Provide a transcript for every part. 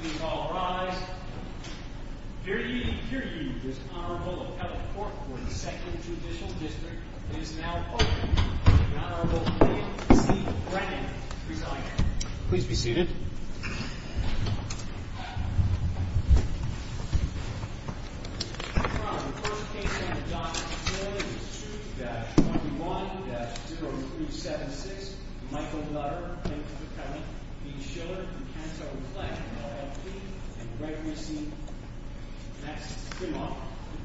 Please all rise. Here to you this Honorable Appellate Court for the 2nd Judicial District is now open. The Honorable William C. Brennan, presiding. Please be seated. Your Honor, the first case under Doctrine and Covenants is 2-21-0376. Michael Nutter v. Schiller, DuCanto & Fleck, LLP. And the record we see next is the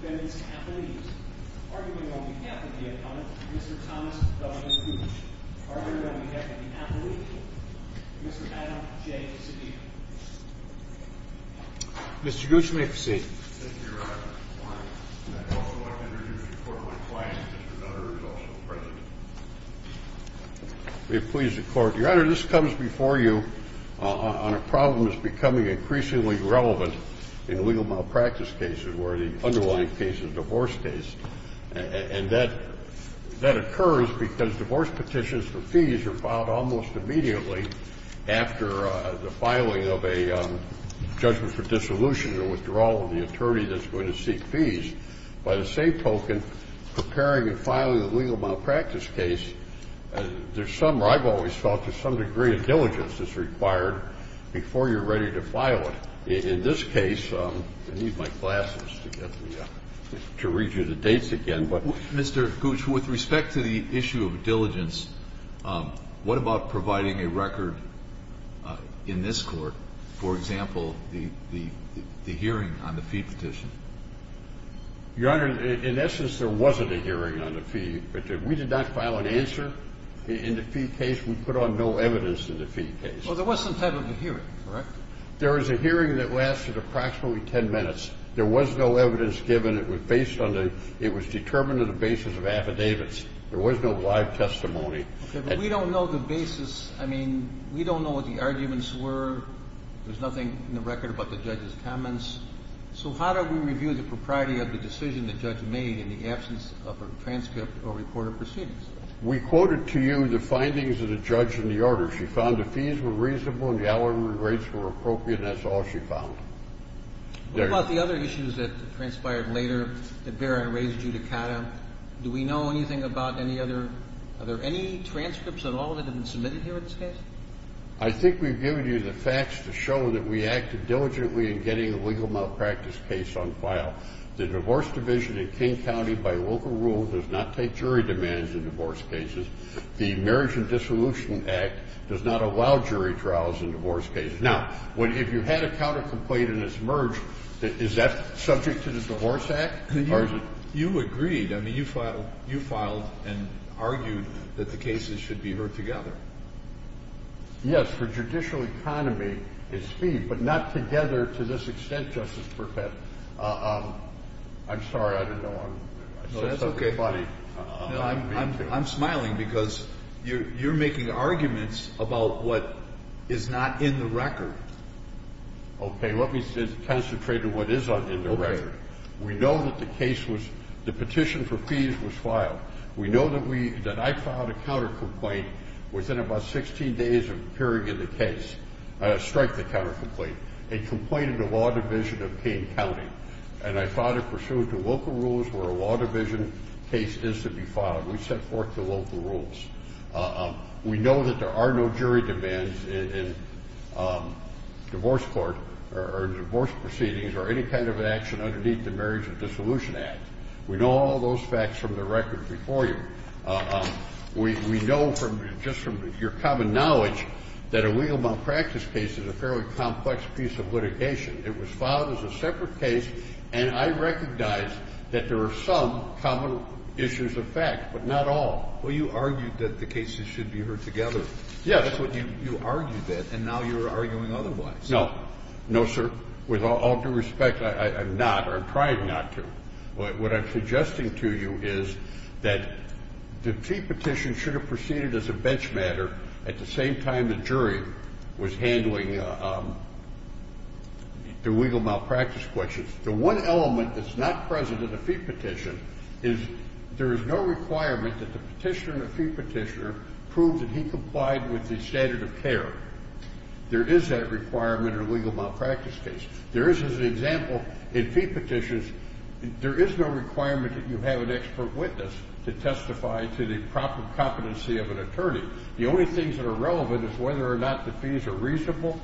defendant's appellate. Arguing on behalf of the defendant, Mr. Thomas W. Gooch. Arguing on behalf of the appellate, Mr. Adam J. Sabina. Mr. Gooch, you may proceed. Thank you, Your Honor. I'd also like to introduce the Court of Appliance. Mr. Nutter is also present. May it please the Court. Your Honor, this comes before you on a problem that's becoming increasingly relevant in illegal malpractice cases where the underlying case is a divorce case. And that occurs because divorce petitions for fees are filed almost immediately after the filing of a judgment for dissolution or withdrawal of the attorney that's going to seek fees. By the same token, preparing and filing a legal malpractice case, I've always felt there's some degree of diligence that's required before you're ready to file it. In this case, I need my glasses to read you the dates again. Mr. Gooch, with respect to the issue of diligence, what about providing a record in this court, for example, the hearing on the fee petition? Your Honor, in essence, there wasn't a hearing on the fee. We did not file an answer in the fee case. We put on no evidence in the fee case. Well, there was some type of a hearing, correct? There was a hearing that lasted approximately 10 minutes. There was no evidence given. It was determined on the basis of affidavits. There was no live testimony. Okay, but we don't know the basis. I mean, we don't know what the arguments were. There's nothing in the record about the judge's comments. So how do we review the propriety of the decision the judge made in the absence of a transcript or recorded proceedings? We quoted to you the findings of the judge in the order. She found the fees were reasonable and the alimony rates were appropriate, and that's all she found. What about the other issues that transpired later that Barron raised you to Cata? Do we know anything about any other? Are there any transcripts at all that have been submitted here at this case? I think we've given you the facts to show that we acted diligently in getting a legal malpractice case on file. The divorce division in King County, by local rule, does not take jury demands in divorce cases. The Marriage and Dissolution Act does not allow jury trials in divorce cases. Now, if you had a countercomplaint and it's merged, is that subject to the Divorce Act, or is it? You agreed. I mean, you filed and argued that the cases should be heard together. Yes, for judicial economy, it's speed, but not together to this extent, Justice Burkett. I'm sorry, I don't know. I said something funny. No, that's okay. I'm smiling because you're making arguments about what is not in the record. Okay, let me concentrate on what is in the record. We know that the petition for fees was filed. We know that I filed a countercomplaint within about 16 days of hearing the case, strike the countercomplaint, and complained to the Law Division of King County, and I filed it pursuant to local rules where a Law Division case is to be filed. We set forth the local rules. We know that there are no jury demands in divorce court or divorce proceedings or any kind of action underneath the Marriage and Dissolution Act. We know all those facts from the record before you. We know just from your common knowledge that a legal malpractice case is a fairly complex piece of litigation. It was filed as a separate case, and I recognize that there are some common issues of fact, but not all. Well, you argued that the cases should be heard together. Yes. That's what you argued that, and now you're arguing otherwise. No. No, sir. With all due respect, I'm not. I'm trying not to. What I'm suggesting to you is that the fee petition should have proceeded as a bench matter at the same time the jury was handling the legal malpractice questions. The one element that's not present in the fee petition is there is no requirement that the petitioner and the fee petitioner prove that he complied with the standard of care. There is that requirement in a legal malpractice case. There is, as an example, in fee petitions, there is no requirement that you have an expert witness to testify to the proper competency of an attorney. The only things that are relevant is whether or not the fees are reasonable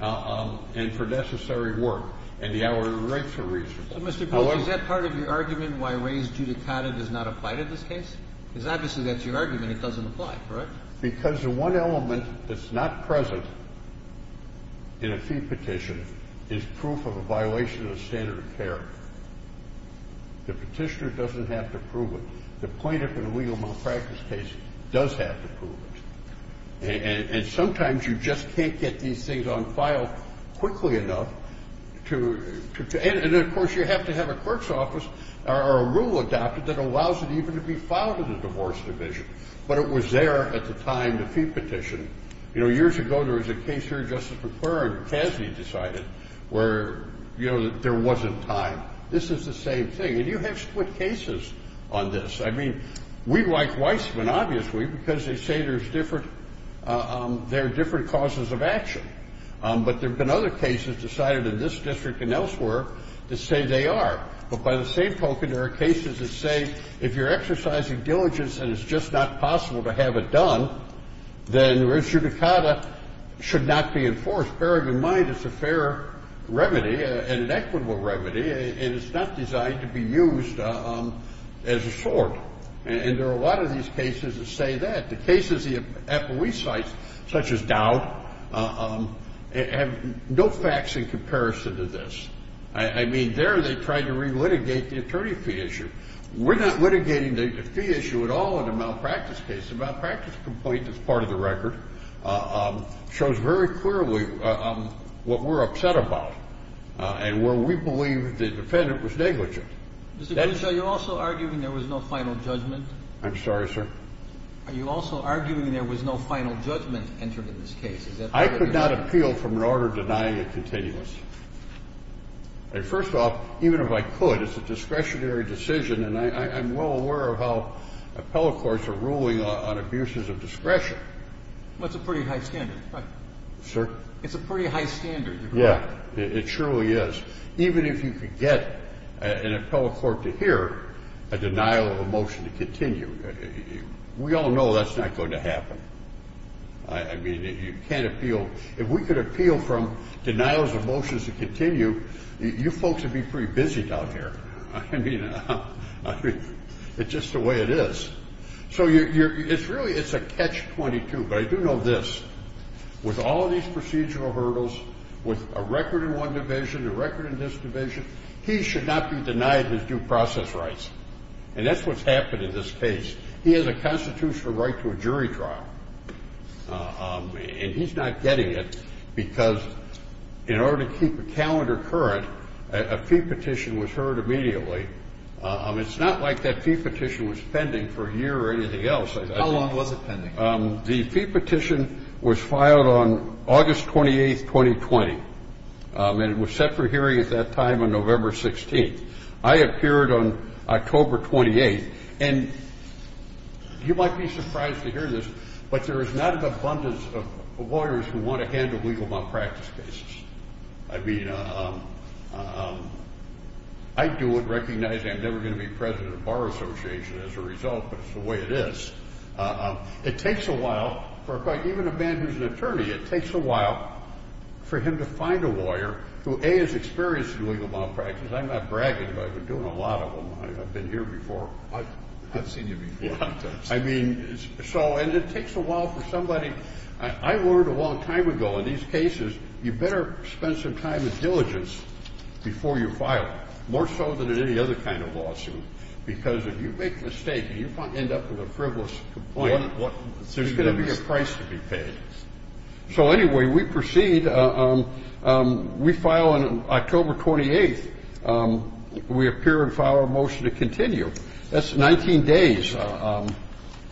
and for necessary work, and the hourly rates are reasonable. Mr. Goldger, is that part of your argument why raised judicata does not apply to this case? Because obviously that's your argument. It doesn't apply, correct? Because the one element that's not present in a fee petition is proof of a violation of the standard of care. The petitioner doesn't have to prove it. The plaintiff in a legal malpractice case does have to prove it. And sometimes you just can't get these things on file quickly enough. And, of course, you have to have a clerk's office or a rule adopted that allows it even to be filed in the divorce division. But it was there at the time, the fee petition. You know, years ago, there was a case here, Justice McClure and Cassidy decided, where, you know, there wasn't time. This is the same thing. And you have split cases on this. I mean, we like Weisman, obviously, because they say there's different – there are different causes of action. But there have been other cases decided in this district and elsewhere that say they are. But by the same token, there are cases that say if you're exercising diligence and it's just not possible to have it done, then res judicata should not be enforced. Bearing in mind it's a fair remedy and an equitable remedy, and it's not designed to be used as a sword. And there are a lot of these cases that say that. The cases the appellee cites, such as Dowd, have no facts in comparison to this. I mean, there they tried to re-litigate the attorney fee issue. We're not litigating the fee issue at all in a malpractice case. The malpractice complaint, as part of the record, shows very clearly what we're upset about and where we believe the defendant was negligent. Mr. Kruger, are you also arguing there was no final judgment? I'm sorry, sir? Are you also arguing there was no final judgment entered in this case? I could not appeal from an order denying a continuous. First off, even if I could, it's a discretionary decision, and I'm well aware of how appellate courts are ruling on abuses of discretion. Well, it's a pretty high standard, right? Sir? It's a pretty high standard. Yeah, it truly is. Even if you could get an appellate court to hear a denial of a motion to continue, we all know that's not going to happen. I mean, you can't appeal. If we could appeal from denials of motions to continue, you folks would be pretty busy down here. I mean, it's just the way it is. So it's really a catch-22, but I do know this. With all of these procedural hurdles, with a record in one division, a record in this division, he should not be denied his due process rights, and that's what's happened in this case. He has a constitutional right to a jury trial, and he's not getting it because in order to keep a calendar current, a fee petition was heard immediately. It's not like that fee petition was pending for a year or anything else. How long was it pending? The fee petition was filed on August 28, 2020, and it was set for hearing at that time on November 16. I appeared on October 28, and you might be surprised to hear this, but there is not an abundance of lawyers who want to handle legal malpractice cases. I mean, I do recognize I'm never going to be president of Bar Association as a result, but it's the way it is. It takes a while for quite even a man who's an attorney, it takes a while for him to find a lawyer who, A, is experienced in legal malpractice. I'm not bragging, but I've been doing a lot of them. I've been here before. I've seen you before. Yeah. I mean, so, and it takes a while for somebody. I learned a long time ago in these cases you better spend some time with diligence before you file, more so than in any other kind of lawsuit, because if you make a mistake and you end up with a frivolous complaint, there's going to be a price to be paid. So anyway, we proceed. We file on October 28. We appear and file a motion to continue. That's 19 days to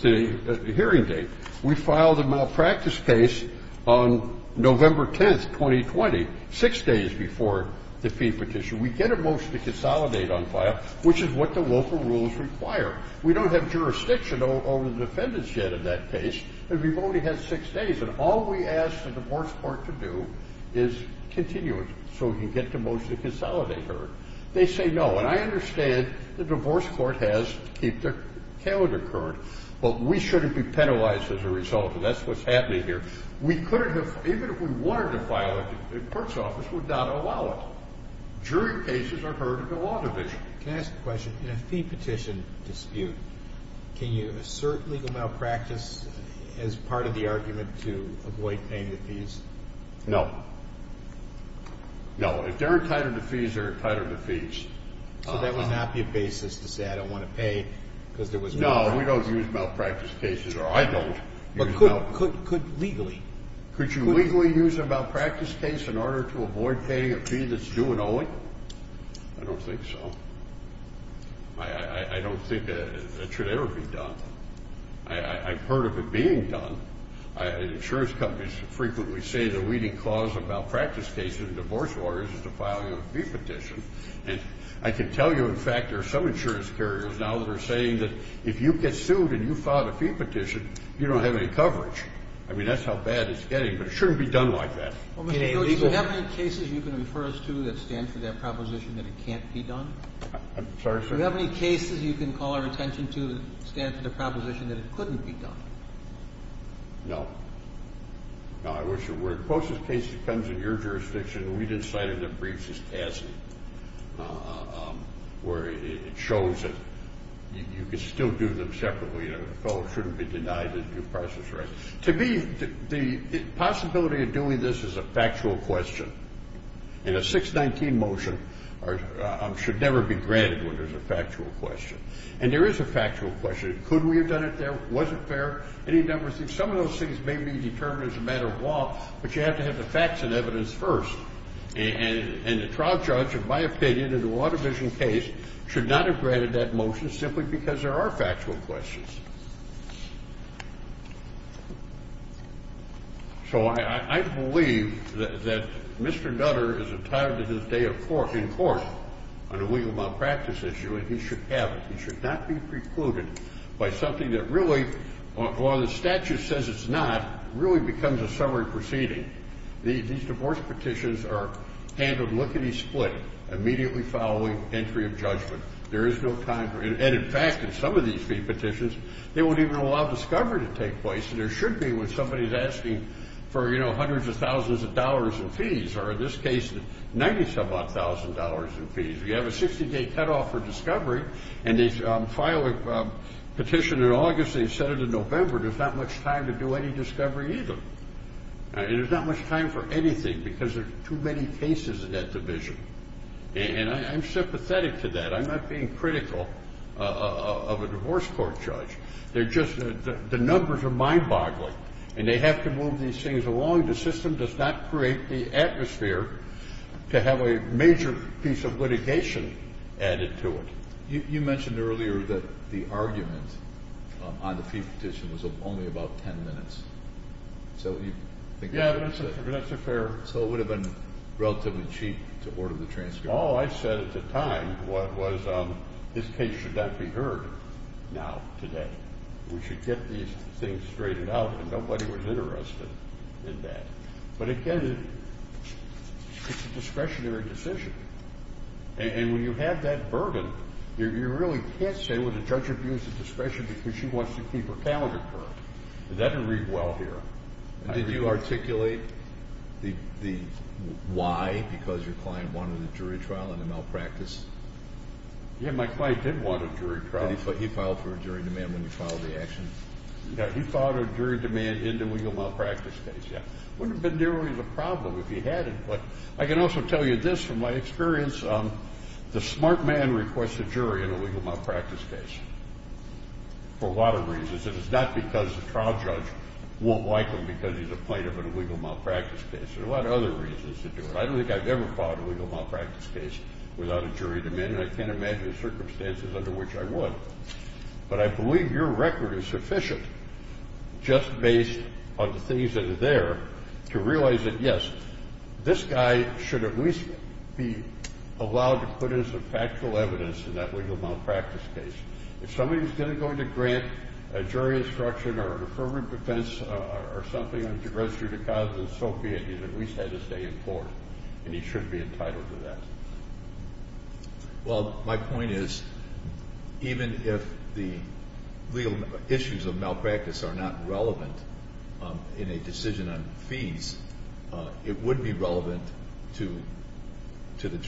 the hearing date. We file the malpractice case on November 10, 2020, six days before the fee petition. We get a motion to consolidate on file, which is what the local rules require. We don't have jurisdiction over the defendants yet in that case, and we've only had six days, and all we ask the divorce court to do is continue it so we can get the motion to consolidate heard. They say no, and I understand the divorce court has to keep their calendar current, but we shouldn't be penalized as a result, and that's what's happening here. We couldn't have, even if we wanted to file it, the court's office would not allow it. Jury cases are heard at the law division. Can I ask a question? In a fee petition dispute, can you assert legal malpractice as part of the argument to avoid paying the fees? No. No, if they're entitled to fees, they're entitled to fees. So that would not be a basis to say I don't want to pay because there was no malpractice? No, we don't use malpractice cases, or I don't use malpractice cases. But could legally? Could you legally use a malpractice case in order to avoid paying a fee that's due and owing? No, I don't think so. I don't think that should ever be done. I've heard of it being done. Insurance companies frequently say the leading cause of malpractice cases in divorce lawyers is to file you a fee petition. And I can tell you, in fact, there are some insurance carriers now that are saying that if you get sued and you file a fee petition, you don't have any coverage. I mean, that's how bad it's getting, but it shouldn't be done like that. Well, Mr. Coates, do you have any cases you can refer us to that stand for that proposition that it can't be done? I'm sorry, sir? Do you have any cases you can call our attention to that stand for the proposition that it couldn't be done? No. No, I wish it were. The closest case depends on your jurisdiction. We've decided that briefs is tasty, where it shows that you can still do them separately. A fellow shouldn't be denied a due process right. To me, the possibility of doing this is a factual question. And a 619 motion should never be granted when there's a factual question. And there is a factual question. Could we have done it there? Was it fair? Any number of things. Some of those things may be determined as a matter of law, but you have to have the facts and evidence first. And the trial judge, in my opinion, in the Watervision case, should not have granted that motion simply because there are factual questions. So I believe that Mr. Nutter is entitled to his day in court on a legal malpractice issue, and he should have it. He should not be precluded by something that really, or the statute says it's not, really becomes a summary proceeding. These divorce petitions are handled lickety-split, immediately following entry of judgment. There is no time for it. And, in fact, in some of these fee petitions, they won't even allow discovery to take place. And there should be when somebody is asking for, you know, hundreds of thousands of dollars in fees, or in this case, 90-some-odd thousand dollars in fees. You have a 60-day cutoff for discovery, and they file a petition in August, and they send it in November. There's not much time to do any discovery either. And there's not much time for anything because there are too many cases in that division. And I'm sympathetic to that. I'm not being critical of a divorce court judge. They're just the numbers are mind-boggling, and they have to move these things along. The system does not create the atmosphere to have a major piece of litigation added to it. You mentioned earlier that the argument on the fee petition was only about 10 minutes. Yeah, but that's a fair— So it would have been relatively cheap to order the transcript. All I said at the time was this case should not be heard now, today. We should get these things straightened out, and nobody was interested in that. But, again, it's a discretionary decision. And when you have that burden, you really can't say, well, the judge abused the discretion because she wants to keep her calendar current. That didn't read well here. Did you articulate the why, because your client wanted a jury trial and a malpractice? Yeah, my client did want a jury trial. Did he file for a jury demand when you filed the action? Yeah, he filed a jury demand into a malpractice case, yeah. It wouldn't have been nearly the problem if he hadn't. But I can also tell you this from my experience. The smart man requests a jury in a legal malpractice case for a lot of reasons, and it's not because the trial judge won't like him because he's a plaintiff in a legal malpractice case. There are a lot of other reasons to do it. I don't think I've ever filed a legal malpractice case without a jury demand, and I can't imagine the circumstances under which I would. But I believe your record is sufficient, just based on the things that are there, to realize that, yes, this guy should at least be allowed to put in some factual evidence in that legal malpractice case. If somebody's going to grant a jury instruction or a deferment of defense or something to register to cause an associate, he's at least had his day in court, and he should be entitled to that. Well, my point is, even if the legal issues of malpractice are not relevant in a decision on fees, it would be relevant to the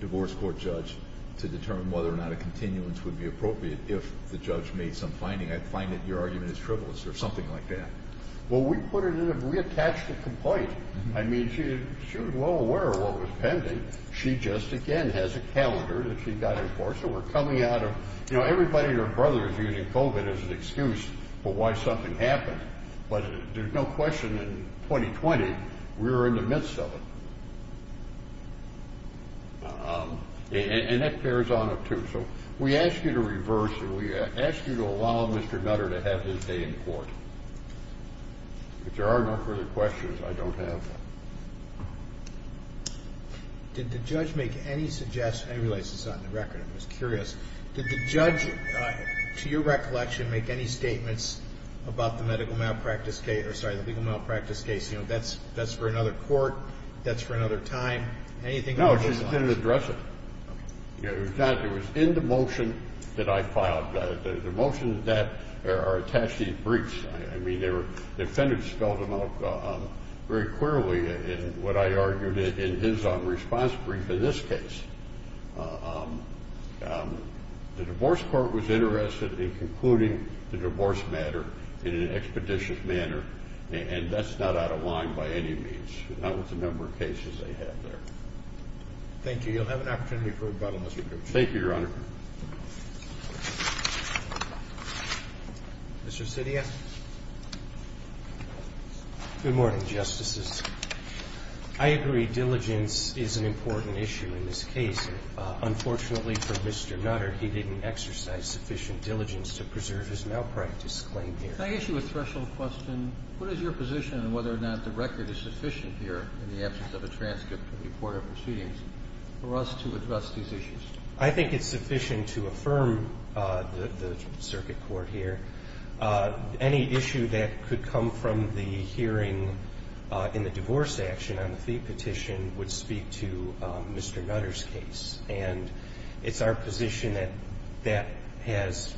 divorce court judge to determine whether or not a continuance would be appropriate if the judge made some finding. I find that your argument is frivolous or something like that. Well, we put it in a reattached complaint. I mean, she was well aware of what was pending. She just, again, has a calendar that she got in court. So we're coming out of, you know, everybody and their brother is using COVID as an excuse for why something happened. But there's no question in 2020, we were in the midst of it. And that bears on it, too. So we ask you to reverse, and we ask you to allow Mr. Nutter to have his day in court. If there are no further questions, I don't have them. Did the judge make any suggestions? I realize it's not in the record. I was curious. Did the judge, to your recollection, make any statements about the medical malpractice case? Or, sorry, the legal malpractice case? You know, that's for another court. That's for another time. No, she didn't address it. It was in the motion that I filed. The motions that are attached to these briefs, I mean, the defendant spelled them out very clearly in what I argued in his own response brief in this case. The divorce court was interested in concluding the divorce matter in an expeditious manner, and that's not out of line by any means, not with the number of cases they have there. Thank you. You'll have an opportunity for rebuttal, Mr. Cooper. Thank you, Your Honor. Mr. Sidia? Good morning, Justices. I agree diligence is an important issue in this case. Unfortunately for Mr. Nutter, he didn't exercise sufficient diligence to preserve his malpractice claim here. Can I ask you a threshold question? What is your position on whether or not the record is sufficient here, in the absence of a transcript from the court of proceedings, for us to address these issues? I think it's sufficient to affirm the circuit court here. Any issue that could come from the hearing in the divorce action on the fee petition would speak to Mr. Nutter's case, and it's our position that that has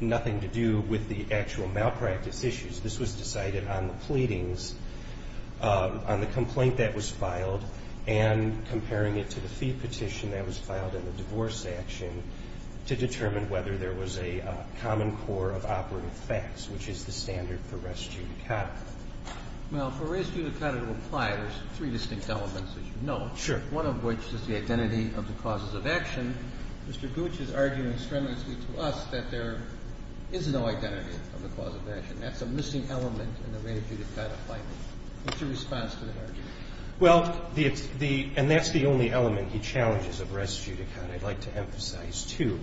nothing to do with the actual malpractice issues. This was decided on the pleadings, on the complaint that was filed, and comparing it to the fee petition that was filed in the divorce action to determine whether there was a common core of operative facts, which is the standard for res judicata. Well, for res judicata to apply, there's three distinct elements, as you know. Sure. One of which is the identity of the causes of action. Mr. Gooch is arguing strenuously to us that there is no identity of the cause of action. That's a missing element in the res judicata claim. What's your response to that argument? Well, the – and that's the only element he challenges of res judicata. I'd like to emphasize, too,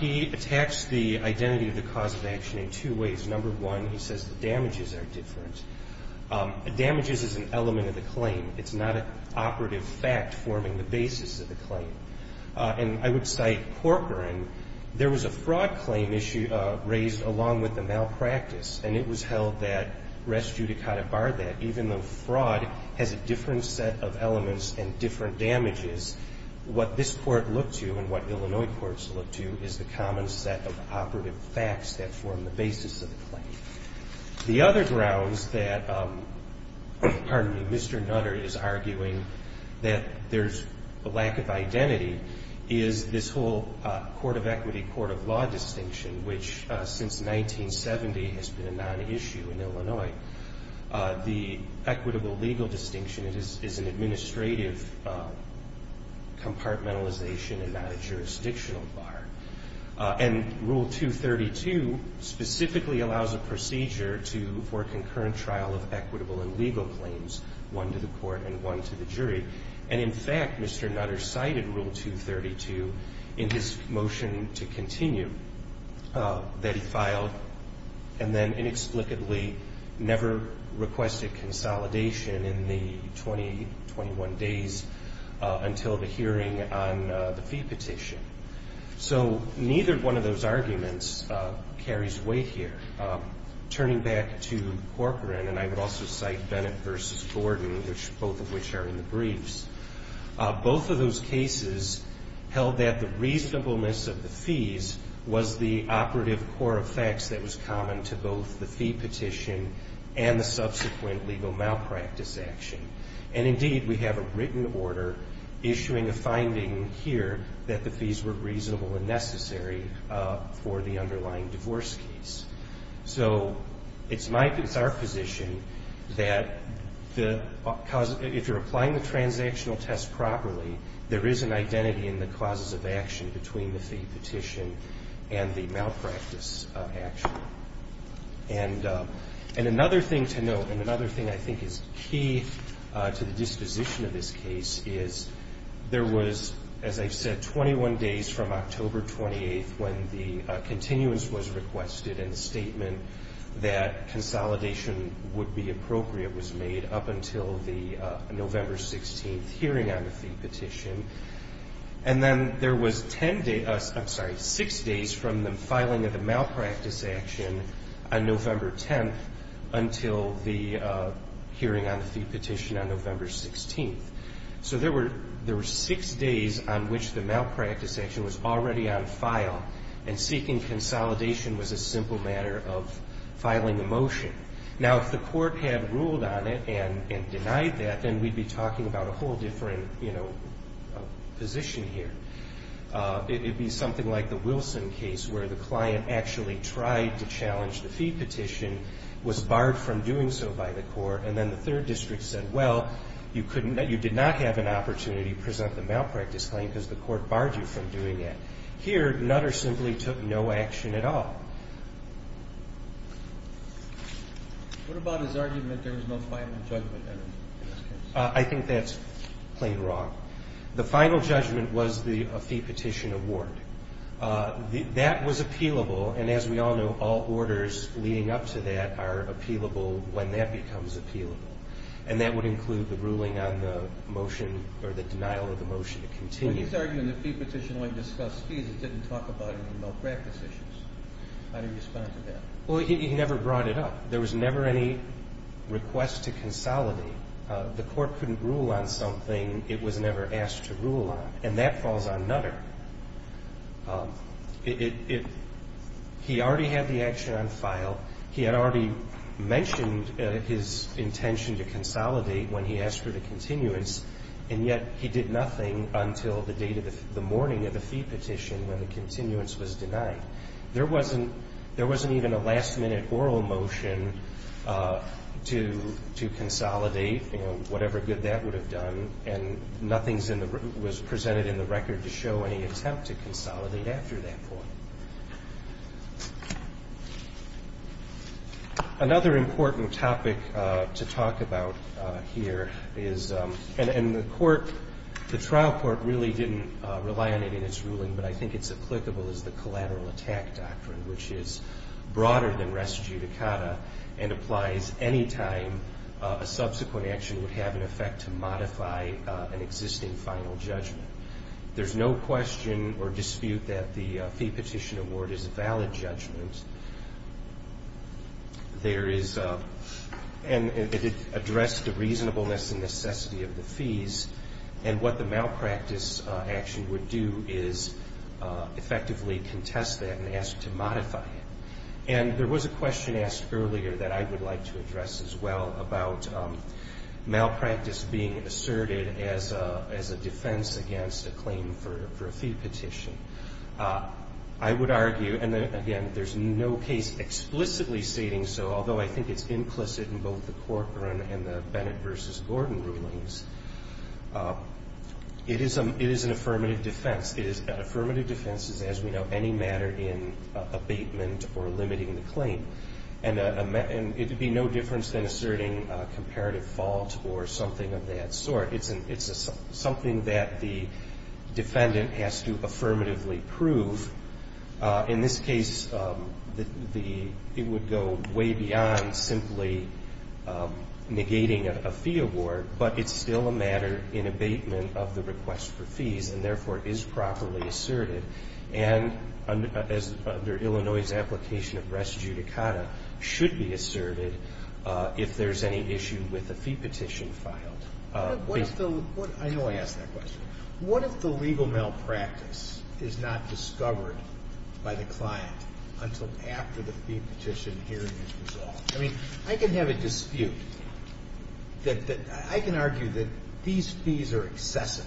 he attacks the identity of the cause of action in two ways. Number one, he says the damages are different. Damages is an element of the claim. It's not an operative fact forming the basis of the claim. And I would cite Corcoran. There was a fraud claim issue raised along with the malpractice, and it was held that res judicata barred that. Even though fraud has a different set of elements and different damages, what this court looked to and what Illinois courts look to is the common set of operative facts that form the basis of the claim. The other grounds that, pardon me, Mr. Nutter is arguing that there's a lack of identity is this whole court of equity, court of law distinction, which since 1970 has been a non-issue in Illinois. The equitable legal distinction is an administrative compartmentalization and not a jurisdictional bar. And Rule 232 specifically allows a procedure for concurrent trial of equitable and legal claims, one to the court and one to the jury. And, in fact, Mr. Nutter cited Rule 232 in his motion to continue that he filed and then inexplicably never requested consolidation in the 20-21 days until the hearing on the fee petition. So neither one of those arguments carries weight here. Turning back to Corcoran, and I would also cite Bennett v. Gordon, both of which are in the briefs, both of those cases held that the reasonableness of the fees was the operative core of facts that was common to both the fee petition and the subsequent legal malpractice action. And, indeed, we have a written order issuing a finding here that the fees were reasonable and necessary for the underlying divorce case. So it's our position that if you're applying the transactional test properly, there is an identity in the causes of action between the fee petition and the malpractice action. And another thing to note, and another thing I think is key to the disposition of this case, is there was, as I said, 21 days from October 28th when the continuance was requested and the statement that consolidation would be appropriate was made up until the November 16th hearing on the fee petition. And then there was six days from the filing of the malpractice action on November 10th until the hearing on the fee petition on November 16th. So there were six days on which the malpractice action was already on file, and seeking consolidation was a simple matter of filing a motion. Now, if the court had ruled on it and denied that, then we'd be talking about a whole different position here. It would be something like the Wilson case where the client actually tried to challenge the fee petition, was barred from doing so by the court, and then the third district said, well, you did not have an opportunity to present the malpractice claim because the court barred you from doing it. Here, Nutter simply took no action at all. What about his argument that there was no final judgment in this case? I think that's plain wrong. The final judgment was the fee petition award. That was appealable, and as we all know, all orders leading up to that are appealable when that becomes appealable, and that would include the ruling on the motion or the denial of the motion to continue. But he's arguing the fee petition only discussed fees. It didn't talk about any malpractice issues. How do you respond to that? Well, he never brought it up. There was never any request to consolidate. The court couldn't rule on something it was never asked to rule on, and that falls on Nutter. He already had the action on file. He had already mentioned his intention to consolidate when he asked for the continuance, and yet he did nothing until the morning of the fee petition when the continuance was denied. There wasn't even a last-minute oral motion to consolidate, whatever good that would have done, and nothing was presented in the record to show any attempt to consolidate after that point. Another important topic to talk about here is, and the trial court really didn't rely on it in its ruling, but I think it's applicable, is the collateral attack doctrine, which is broader than res judicata and applies any time a subsequent action would have an effect to modify an existing final judgment. There's no question or dispute that the fee petition award is a valid judgment. It addressed the reasonableness and necessity of the fees, and what the malpractice action would do is effectively contest that and ask to modify it. And there was a question asked earlier that I would like to address as well about malpractice being asserted as a defense against a claim for a fee petition. I would argue, and again, there's no case explicitly stating so, although I think it's implicit in both the Corcoran and the Bennett v. Gordon rulings. It is an affirmative defense. Affirmative defense is, as we know, any matter in abatement or limiting the claim. And it would be no difference than asserting a comparative fault or something of that sort. It's something that the defendant has to affirmatively prove. In this case, it would go way beyond simply negating a fee award, but it's still a matter in abatement of the request for fees and, therefore, is properly asserted. And as under Illinois' application of res judicata, should be asserted if there's any issue with a fee petition filed. I know I asked that question. What if the legal malpractice is not discovered by the client until after the fee petition hearing is resolved? I mean, I can have a dispute that I can argue that these fees are excessive.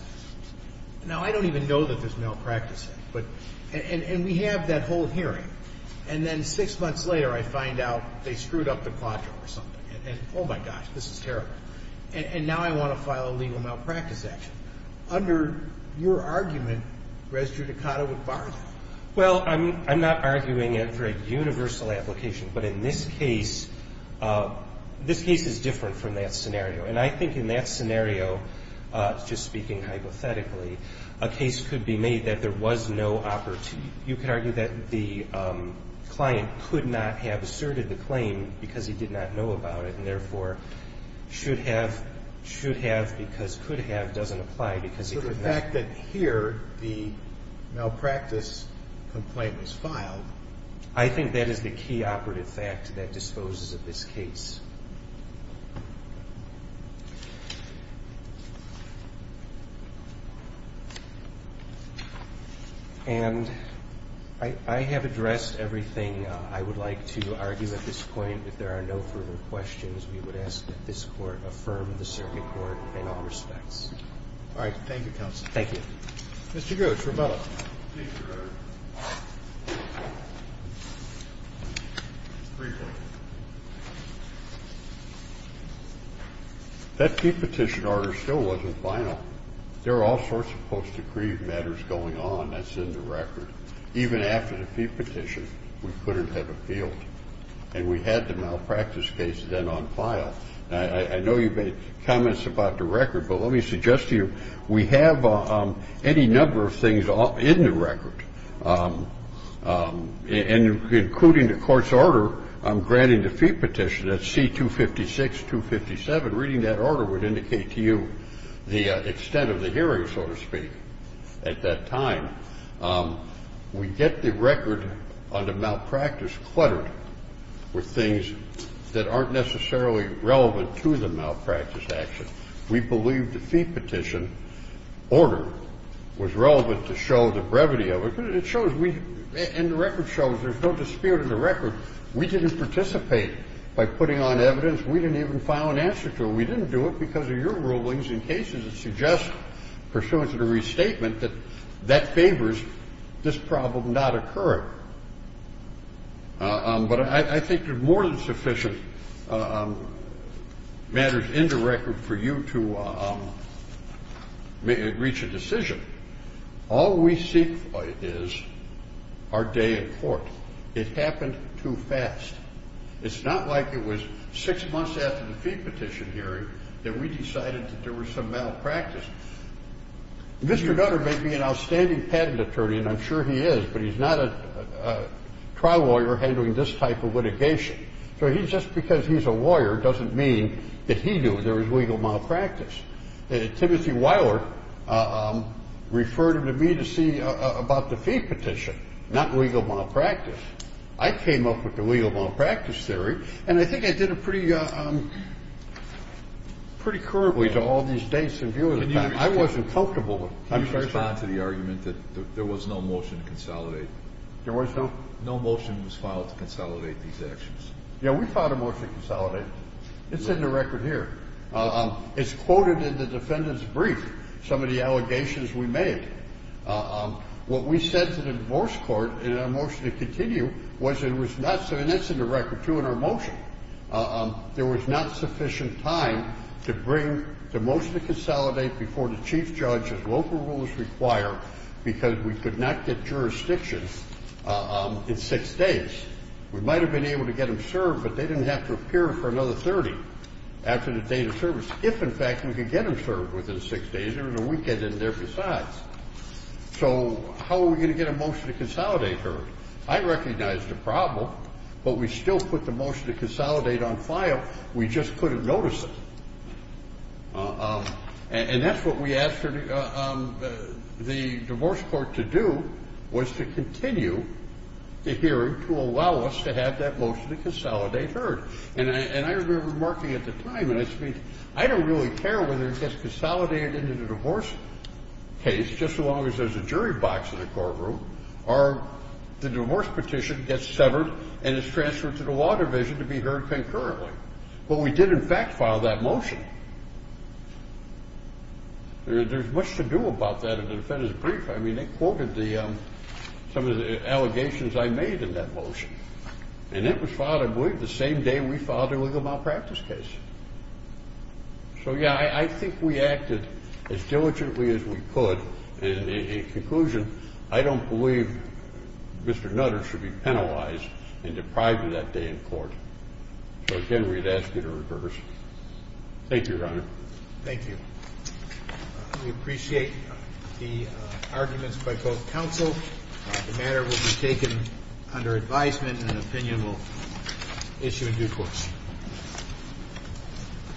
Now, I don't even know that there's malpractice there. And we have that whole hearing. And then six months later, I find out they screwed up the quadro or something. And, oh, my gosh, this is terrible. And now I want to file a legal malpractice action. Under your argument, res judicata would bar that. Well, I'm not arguing it for a universal application. But in this case, this case is different from that scenario. And I think in that scenario, just speaking hypothetically, a case could be made that there was no operative. You could argue that the client could not have asserted the claim because he did not know about it and, therefore, should have, should have because could have doesn't apply because he could not. So the fact that here the malpractice complaint was filed. I think that is the key operative fact that disposes of this case. And I have addressed everything I would like to argue at this point. If there are no further questions, we would ask that this Court affirm the circuit court in all respects. All right. Thank you, counsel. Thank you. Mr. Grosz, rebuttal. Thank you, Your Honor. Rebuttal. That fee petition order still wasn't final. There are all sorts of post-decree matters going on that's in the record. Even after the fee petition, we couldn't have appealed. And we had the malpractice case then on file. I know you made comments about the record, but let me suggest to you, we have any number of things in the record, and including the Court's order on granting the fee petition, that's C-256, 257. Reading that order would indicate to you the extent of the hearing, so to speak, at that time. We get the record on the malpractice cluttered with things that aren't necessarily relevant to the malpractice action. We believe the fee petition order was relevant to show the brevity of it. It shows we – and the record shows there's no dispute in the record. We didn't participate by putting on evidence. We didn't even file an answer to it. We didn't do it because of your rulings in cases that suggest pursuant to the restatement that that favors this problem not occurring. But I think there's more than sufficient matters in the record for you to reach a decision. All we seek is our day in court. It happened too fast. It's not like it was six months after the fee petition hearing that we decided that there was some malpractice. Mr. Nutter may be an outstanding patent attorney, and I'm sure he is, but he's not a trial lawyer handling this type of litigation. So just because he's a lawyer doesn't mean that he knew there was legal malpractice. Timothy Weiler referred him to me to see about the fee petition, not legal malpractice. I came up with the legal malpractice theory, and I think I did it pretty courteously to all these dates and viewers. I wasn't comfortable. Can you respond to the argument that there was no motion to consolidate? There was no? No motion was filed to consolidate these actions. Yeah, we filed a motion to consolidate. It's in the record here. It's quoted in the defendant's brief, some of the allegations we made. What we said to the divorce court in our motion to continue was it was not And that's in the record, too, in our motion. There was not sufficient time to bring the motion to consolidate before the chief judge as local rules require because we could not get jurisdictions in six days. We might have been able to get them served, but they didn't have to appear for another 30 after the date of service, if, in fact, we could get them served within six days. There was a weekend in there besides. So how are we going to get a motion to consolidate heard? I recognized the problem, but we still put the motion to consolidate on file. We just couldn't notice it. And that's what we asked the divorce court to do, was to continue the hearing to allow us to have that motion to consolidate heard. And I remember remarking at the time, and I speak, I don't really care whether it gets consolidated into the divorce case just as long as there's a jury box in the courtroom or the divorce petition gets severed and is transferred to the Water Division to be heard concurrently. But we did, in fact, file that motion. There's much to do about that in the defendant's brief. I mean, they quoted some of the allegations I made in that motion. And it was filed, I believe, the same day we filed the illegal malpractice case. So, yeah, I think we acted as diligently as we could. In conclusion, I don't believe Mr. Nutter should be penalized and deprived of that day in court. So, again, we'd ask you to reverse. Thank you, Your Honor. Thank you. We appreciate the arguments by both counsel. The matter will be taken under advisement, and an opinion will issue in due course.